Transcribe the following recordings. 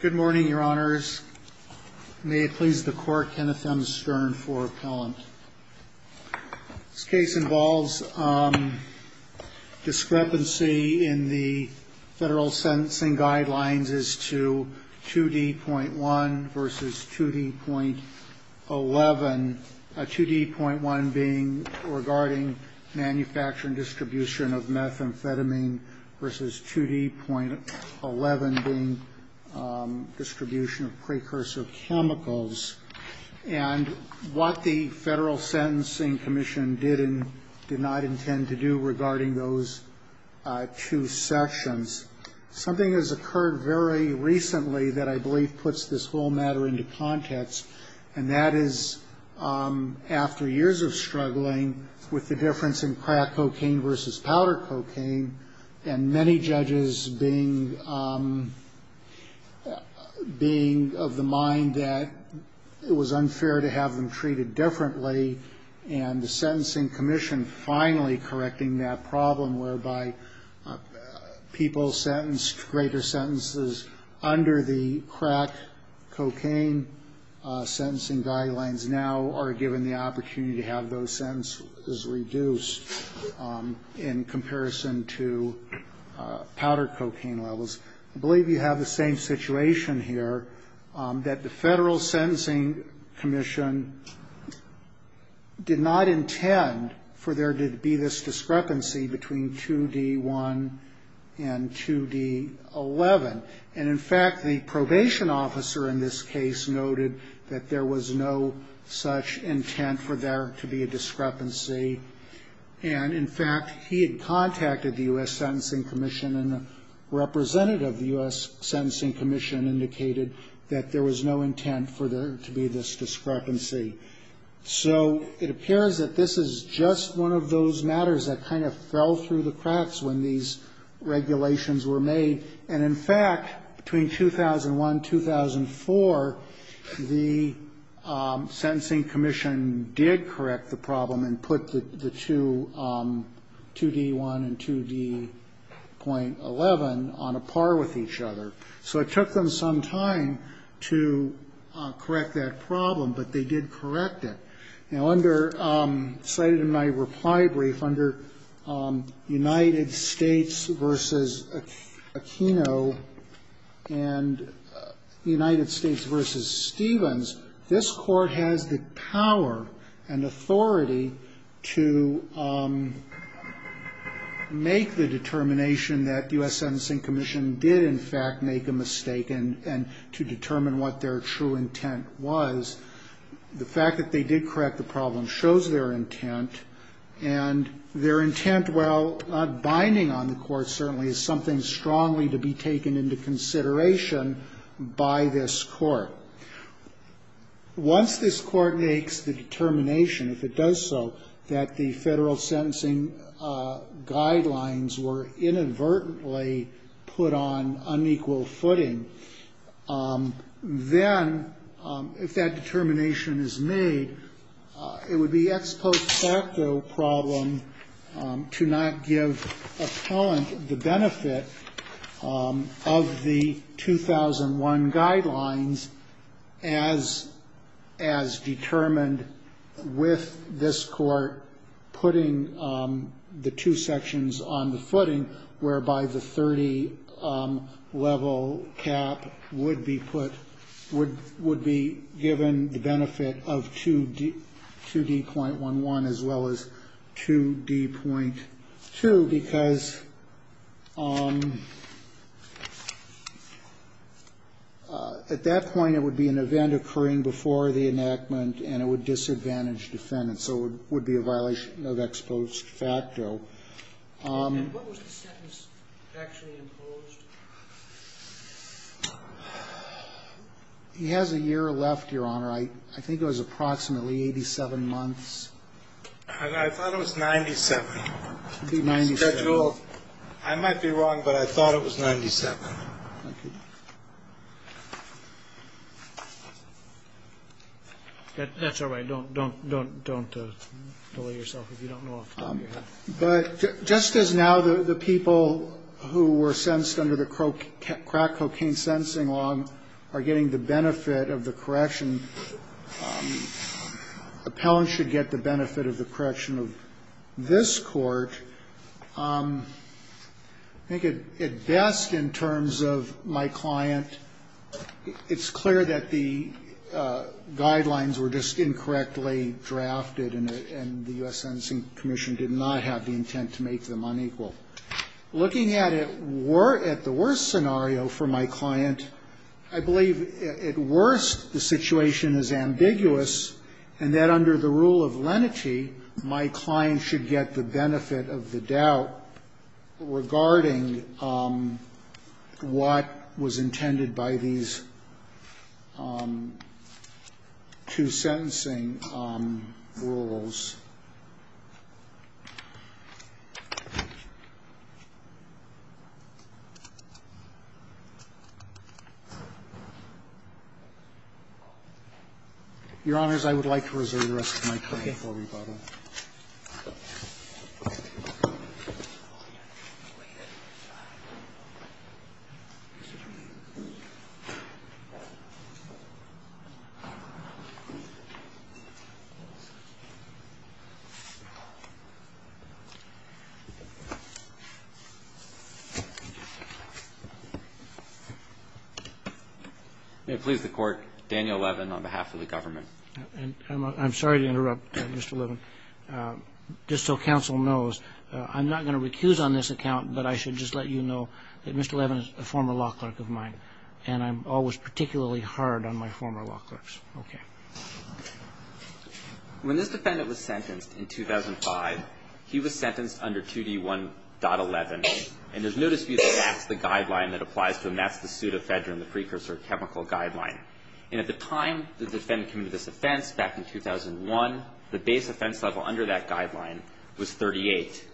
Good morning, your honors. May it please the court, Kenneth M. Stern for appellant. This case involves discrepancy in the federal sentencing guidelines as to 2D.1 v. 2D.11, 2D.1 being regarding manufacturing distribution of methamphetamine v. 2D.11 being distribution of precursor chemicals. And what the Federal Sentencing Commission did and did not intend to do regarding those two sections. Something has occurred very recently that I believe puts this whole matter into context. And that is after years of struggling with the difference in crack cocaine v. powder cocaine. And many judges being of the mind that it was unfair to have them treated differently. And the Sentencing Commission finally correcting that problem whereby people sentenced to greater sentences under the crack cocaine sentencing guidelines. Now are given the opportunity to have those sentences reduced in comparison to powder cocaine levels. I believe you have the same situation here that the Federal Sentencing Commission did not intend for there to be this discrepancy between 2D.1 and 2D.11. And in fact, the probation officer in this case noted that there was no such intent for there to be a discrepancy. And in fact, he had contacted the U.S. Sentencing Commission and the representative of the U.S. Sentencing Commission indicated that there was no intent for there to be this discrepancy. So it appears that this is just one of those matters that kind of fell through the cracks when these regulations were made. And in fact, between 2001, 2004, the Sentencing Commission did correct the problem and put the two 2D.1 and 2D.11 on a par with each other. So it took them some time to correct that problem, but they did correct it. Now, cited in my reply brief, under United States v. Aquino and United States v. Stevens, this Court has the power and authority to make the determination that the U.S. Sentencing Commission did in fact make a mistake and to determine what their true intent was. The fact that they did correct the problem shows their intent. And their intent, while not binding on the Court, certainly is something strongly to be taken into consideration by this Court. Once this Court makes the determination, if it does so, that the Federal sentencing guidelines were inadvertently put on unequal footing, then, if that determination is made, it would be ex post facto problem to not give appellant the benefit of the 2001 guidelines as determined with this Court putting the two sections on the footing whereby the 30-level cap would be put, would be given the benefit of 2D.11 as well as 2D.2, because at that point it would be an event occurring before the enactment and it would disadvantage defendants. So it would be a violation of ex post facto. And what was the sentence actually imposed? He has a year left, Your Honor. I think it was approximately 87 months. I thought it was 97. I might be wrong, but I thought it was 97. That's all right. Don't delay yourself if you don't know off the top of your head. But just as now the people who were sentenced under the crack cocaine sentencing law are getting the benefit of the correction, and appellants should get the benefit of the correction of this Court, I think at best in terms of my client, it's clear that the guidelines were just incorrectly drafted and the U.S. Sentencing Commission did not have the intent to make them unequal. Looking at it at the worst scenario for my client, I believe at worst the situation is ambiguous and that under the rule of lenity my client should get the benefit of the doubt regarding what was intended by these two sentencing rules. Your Honors, I would like to reserve the rest of my time for rebuttal. May it please the Court, Daniel Levin on behalf of the government. I'm sorry to interrupt, Mr. Levin. Just so counsel knows, I'm not going to recuse on this account, but I should just let you know that Mr. Levin is a former law clerk of mine, and I'm always particularly hard on my former law clerks. Okay. When this defendant was sentenced in 2005, he was sentenced under 2D1.11, and there's no dispute that that's the guideline that applies to him. That's the pseudo-federal precursor chemical guideline. And at the time the defendant committed this offense back in 2001, the base offense level under that guideline was 38.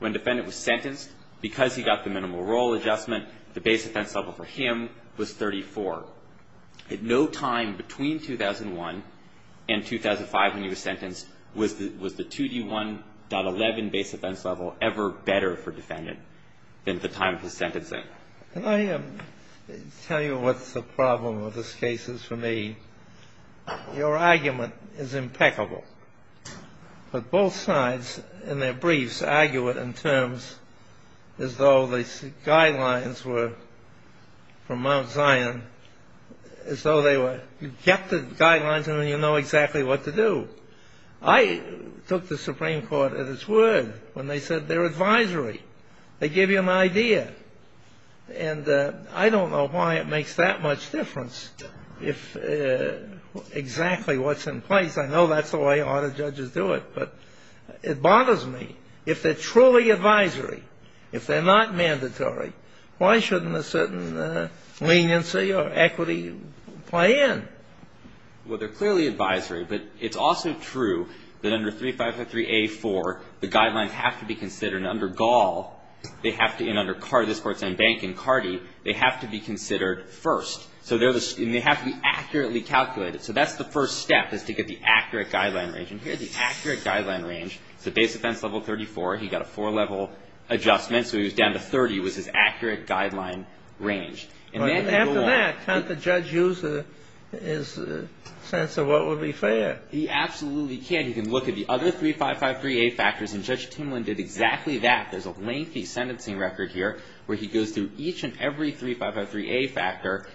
When the defendant was sentenced, because he got the minimal role adjustment, the base offense level for him was 34. At no time between 2001 and 2005 when he was sentenced was the 2D1.11 base offense level ever better for the defendant than the time of his sentencing. Can I tell you what the problem of this case is for me? Your argument is impeccable. But both sides in their briefs argue it in terms as though the guidelines were from Mount Zion, as though they were you get the guidelines and then you know exactly what to do. I took the Supreme Court at its word when they said they're advisory. They give you an idea. And I don't know why it makes that much difference if exactly what's in place. I know that's the way a lot of judges do it. But it bothers me. If they're truly advisory, if they're not mandatory, why shouldn't a certain leniency or equity play in? Well, they're clearly advisory. But it's also true that under 3553A4, the guidelines have to be considered. And under Gall, they have to, and under Cardi, the Sportsland Bank, and Cardi, they have to be considered first. And they have to be accurately calculated. So that's the first step is to get the accurate guideline range. And here's the accurate guideline range. It's the base offense level 34. He got a four-level adjustment. So he was down to 30 was his accurate guideline range. After that, can't the judge use his sense of what would be fair? He absolutely can. You can look at the other 3553A factors, and Judge Timlin did exactly that. There's a lengthy sentencing record here where he goes through each and every 3553A factor,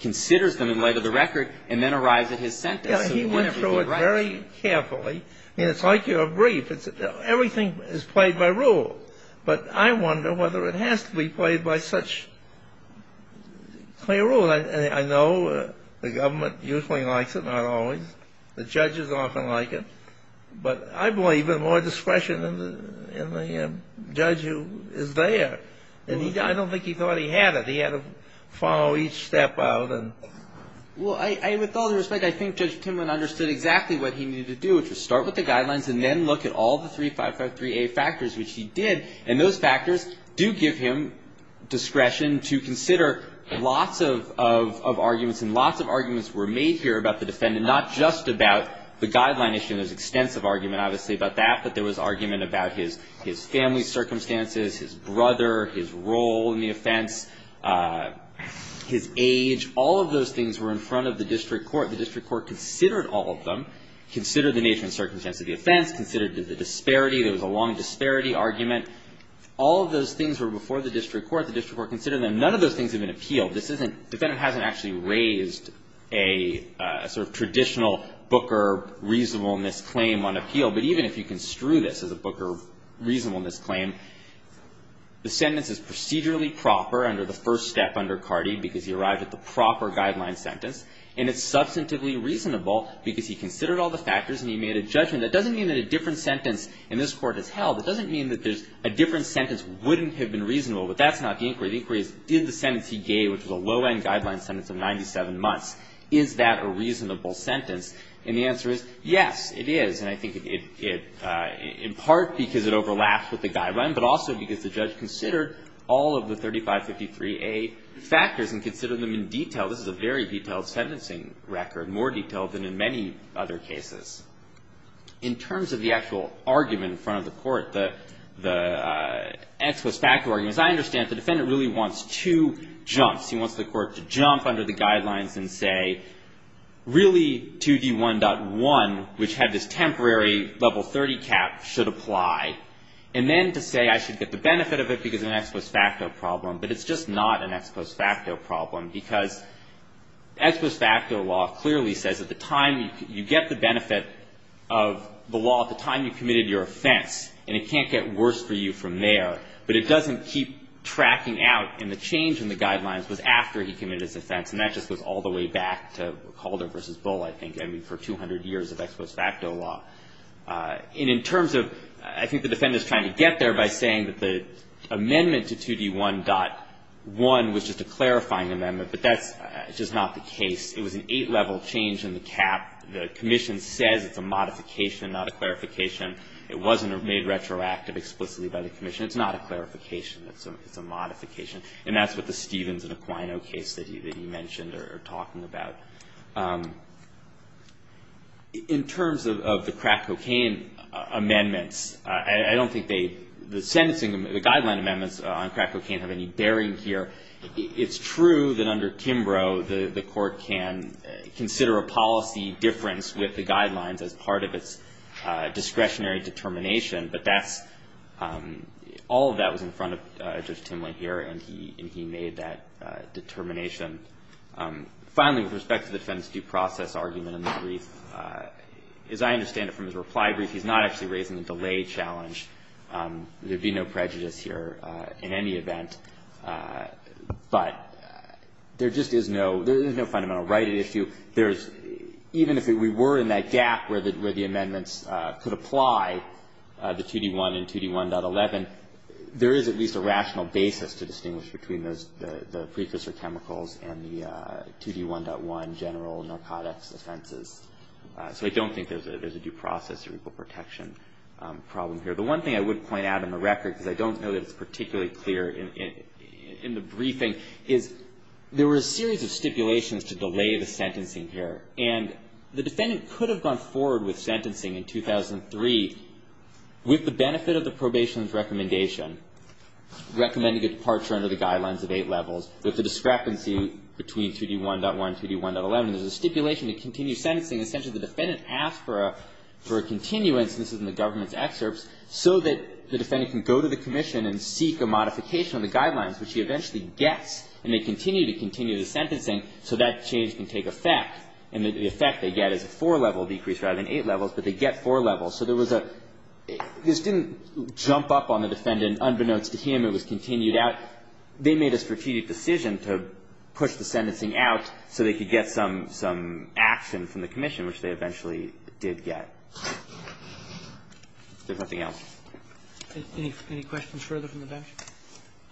considers them in light of the record, and then arrives at his sentence. He went through it very carefully. It's like your brief. Everything is played by rule. But I wonder whether it has to be played by such clear rule. I know the government usually likes it, not always. The judges often like it. But I believe in more discretion in the judge who is there. And I don't think he thought he had it. He had to follow each step out. Well, with all due respect, I think Judge Timlin understood exactly what he needed to do, which was start with the guidelines and then look at all the 3553A factors, which he did. And those factors do give him discretion to consider lots of arguments. And lots of arguments were made here about the defendant, not just about the guideline issue. There's extensive argument, obviously, about that. But there was argument about his family circumstances, his brother, his role in the offense, his age. All of those things were in front of the district court. The district court considered all of them, considered the nature and circumstance of the offense, considered the disparity. There was a long disparity argument. All of those things were before the district court. The district court considered them. None of those things have been appealed. This isn't ‑‑ the defendant hasn't actually raised a sort of traditional Booker reasonableness claim on appeal. But even if you construe this as a Booker reasonableness claim, the sentence is procedurally proper under the first step under Cardi because he arrived at the proper guideline sentence. And it's substantively reasonable because he considered all the factors and he made a judgment. That doesn't mean that a different sentence in this Court is held. It doesn't mean that there's a different sentence wouldn't have been reasonable. But that's not the inquiry. The inquiry is, did the sentence he gave, which was a low‑end guideline sentence of 97 months, is that a reasonable sentence? And the answer is, yes, it is. And I think it ‑‑ in part because it overlaps with the guideline, but also because the judge considered all of the 3553A factors and considered them in detail. This is a very detailed sentencing record, more detailed than in many other cases. In terms of the actual argument in front of the Court, the ex post facto argument, as I understand it, the defendant really wants two jumps. He wants the Court to jump under the guidelines and say, really, 2D1.1, which had this temporary level 30 cap, should apply. And then to say I should get the benefit of it because of an ex post facto problem. But it's just not an ex post facto problem. Because ex post facto law clearly says at the time you get the benefit of the law, at the time you committed your offense. And it can't get worse for you from there. But it doesn't keep tracking out. And the change in the guidelines was after he committed his offense. And that just goes all the way back to Calder v. Bull, I think, for 200 years of ex post facto law. And in terms of, I think the defendant is trying to get there by saying that the amendment to 2D1.1 was just a clarifying amendment. But that's just not the case. It was an eight-level change in the cap. The commission says it's a modification, not a clarification. It wasn't made retroactive explicitly by the commission. It's not a clarification. It's a modification. And that's what the Stevens and Aquino case that you mentioned are talking about. In terms of the crack cocaine amendments, I don't think the sentencing, the guideline amendments on crack cocaine have any bearing here. It's true that under Kimbrough the court can consider a policy difference with the guidelines as part of its discretionary determination. But that's, all of that was in front of Judge Timlin here. And he made that determination. Finally, with respect to the defendant's due process argument in the brief, as I understand it from his reply brief, he's not actually raising the delay challenge. There'd be no prejudice here in any event. But there just is no, there is no fundamental right at issue. There's, even if we were in that gap where the amendments could apply the 2D1 and 2D1.11, there is at least a rational basis to distinguish between the precursor chemicals and the 2D1.1 general narcotics offenses. So I don't think there's a due process or equal protection problem here. The one thing I would point out on the record, because I don't know that it's particularly clear in the briefing, is there were a series of stipulations to delay the sentencing here. And the defendant could have gone forward with sentencing in 2003 with the benefit of the probation's recommendation, recommending a departure under the guidelines of eight levels, with the discrepancy between 2D1.1 and 2D1.11. There's a stipulation to continue sentencing. Essentially, the defendant asked for a continuance, and this is in the government's excerpts, so that the defendant can go to the commission and seek a modification of the guidelines, which he eventually gets, and they continue to continue the sentencing, so that change can take effect. And the effect they get is a four-level decrease rather than eight levels, but they get four levels. So there was a – this didn't jump up on the defendant unbeknownst to him. It was continued out. They made a strategic decision to push the sentencing out so they could get some action from the commission, which they eventually did get. Is there something else? Any questions further from the bench?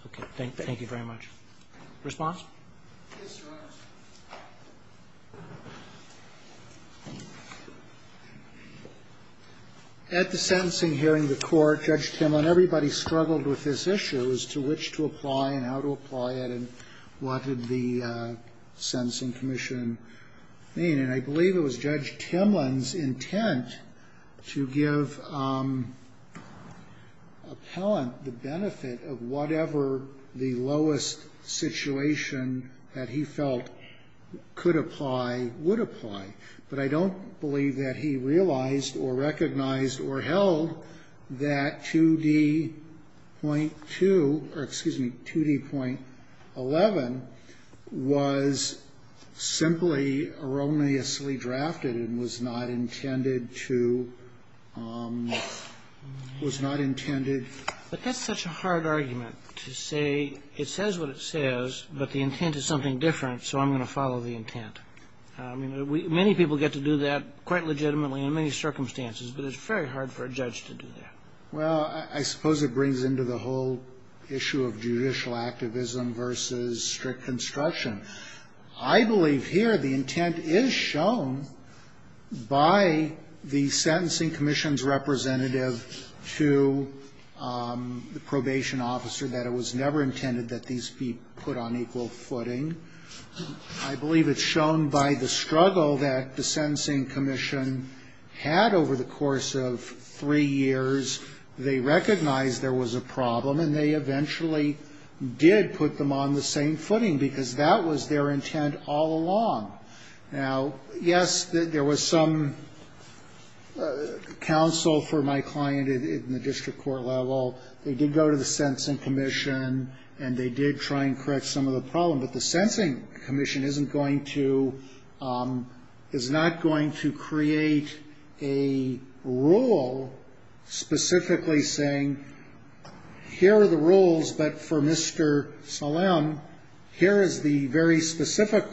Okay. Thank you very much. Response? Yes, Your Honor. At the sentencing hearing, the court, Judge Timlin, everybody struggled with his issues, to which to apply and how to apply it, and what did the sentencing commission mean. And I believe it was Judge Timlin's intent to give appellant the benefit of whatever the lowest situation that he felt could apply would apply. But I don't believe that he realized or recognized or held that 2D.2 or, excuse me, 2D.11 was simply erroneously drafted and was not intended to – was not intended But that's such a hard argument to say it says what it says, but the intent is something different, so I'm going to follow the intent. I mean, many people get to do that quite legitimately in many circumstances, but it's very hard for a judge to do that. Well, I suppose it brings into the whole issue of judicial activism versus strict construction. I believe here the intent is shown by the sentencing commission's representative to the probation officer that it was never intended that these be put on equal footing. I believe it's shown by the struggle that the sentencing commission had over the course of three years. They recognized there was a problem, and they eventually did put them on the same footing, because that was their intent all along. Now, yes, there was some counsel for my client in the district court level. They did go to the sentencing commission, and they did try and correct some of the problem, but the sentencing commission isn't going to – is not going to create a rule specifically saying, here are the rules, but for Mr. Salem, here is the very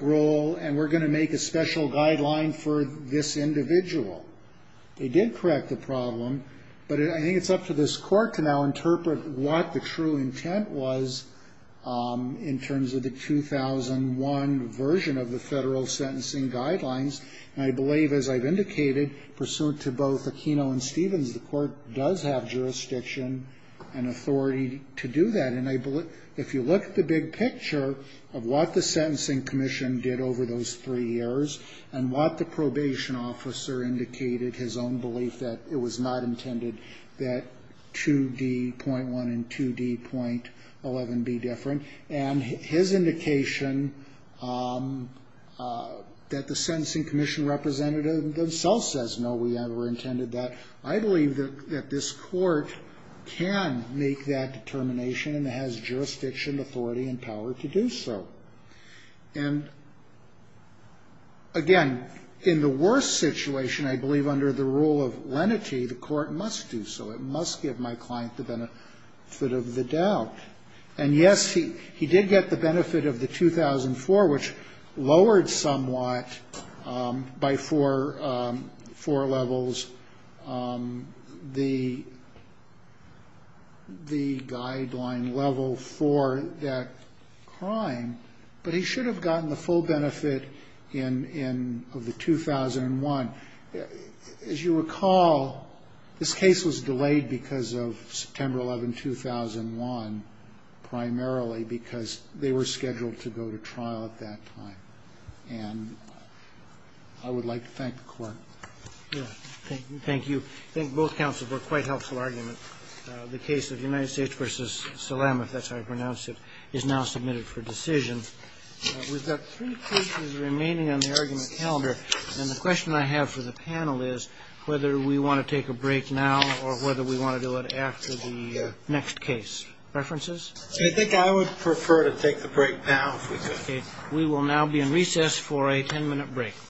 rule, and we're going to make a special guideline for this individual. They did correct the problem, but I think it's up to this court to now interpret what the true intent was in terms of the 2001 version of the federal sentencing guidelines. And I believe, as I've indicated, pursuant to both Aquino and Stevens, the court does have jurisdiction and authority to do that. And if you look at the big picture of what the sentencing commission did over those three years and what the probation officer indicated, his own belief that it was not intended that 2D.1 and 2D.11 be different, and his indication that the sentencing commission representative themselves says, no, we never intended that, I believe that this court can make that determination and has jurisdiction, authority, and power to do so. And, again, in the worst situation, I believe under the rule of lenity, the court must do so. It must give my client the benefit of the doubt. And, yes, he did get the benefit of the 2004, which lowered somewhat by four levels the guideline level for that crime. But he should have gotten the full benefit of the 2001. As you recall, this case was delayed because of September 11, 2001, primarily because they were scheduled to go to trial at that time. And I would like to thank the Court. Roberts. Thank you. I think both counsels were quite helpful arguments. The case of United States v. Salam, if that's how you pronounce it, is now submitted for decision. We've got three cases remaining on the argument calendar. And the question I have for the panel is whether we want to take a break now or whether we want to do it after the next case. References? I think I would prefer to take the break now, if we could. Okay. We will now be in recess for a ten-minute break.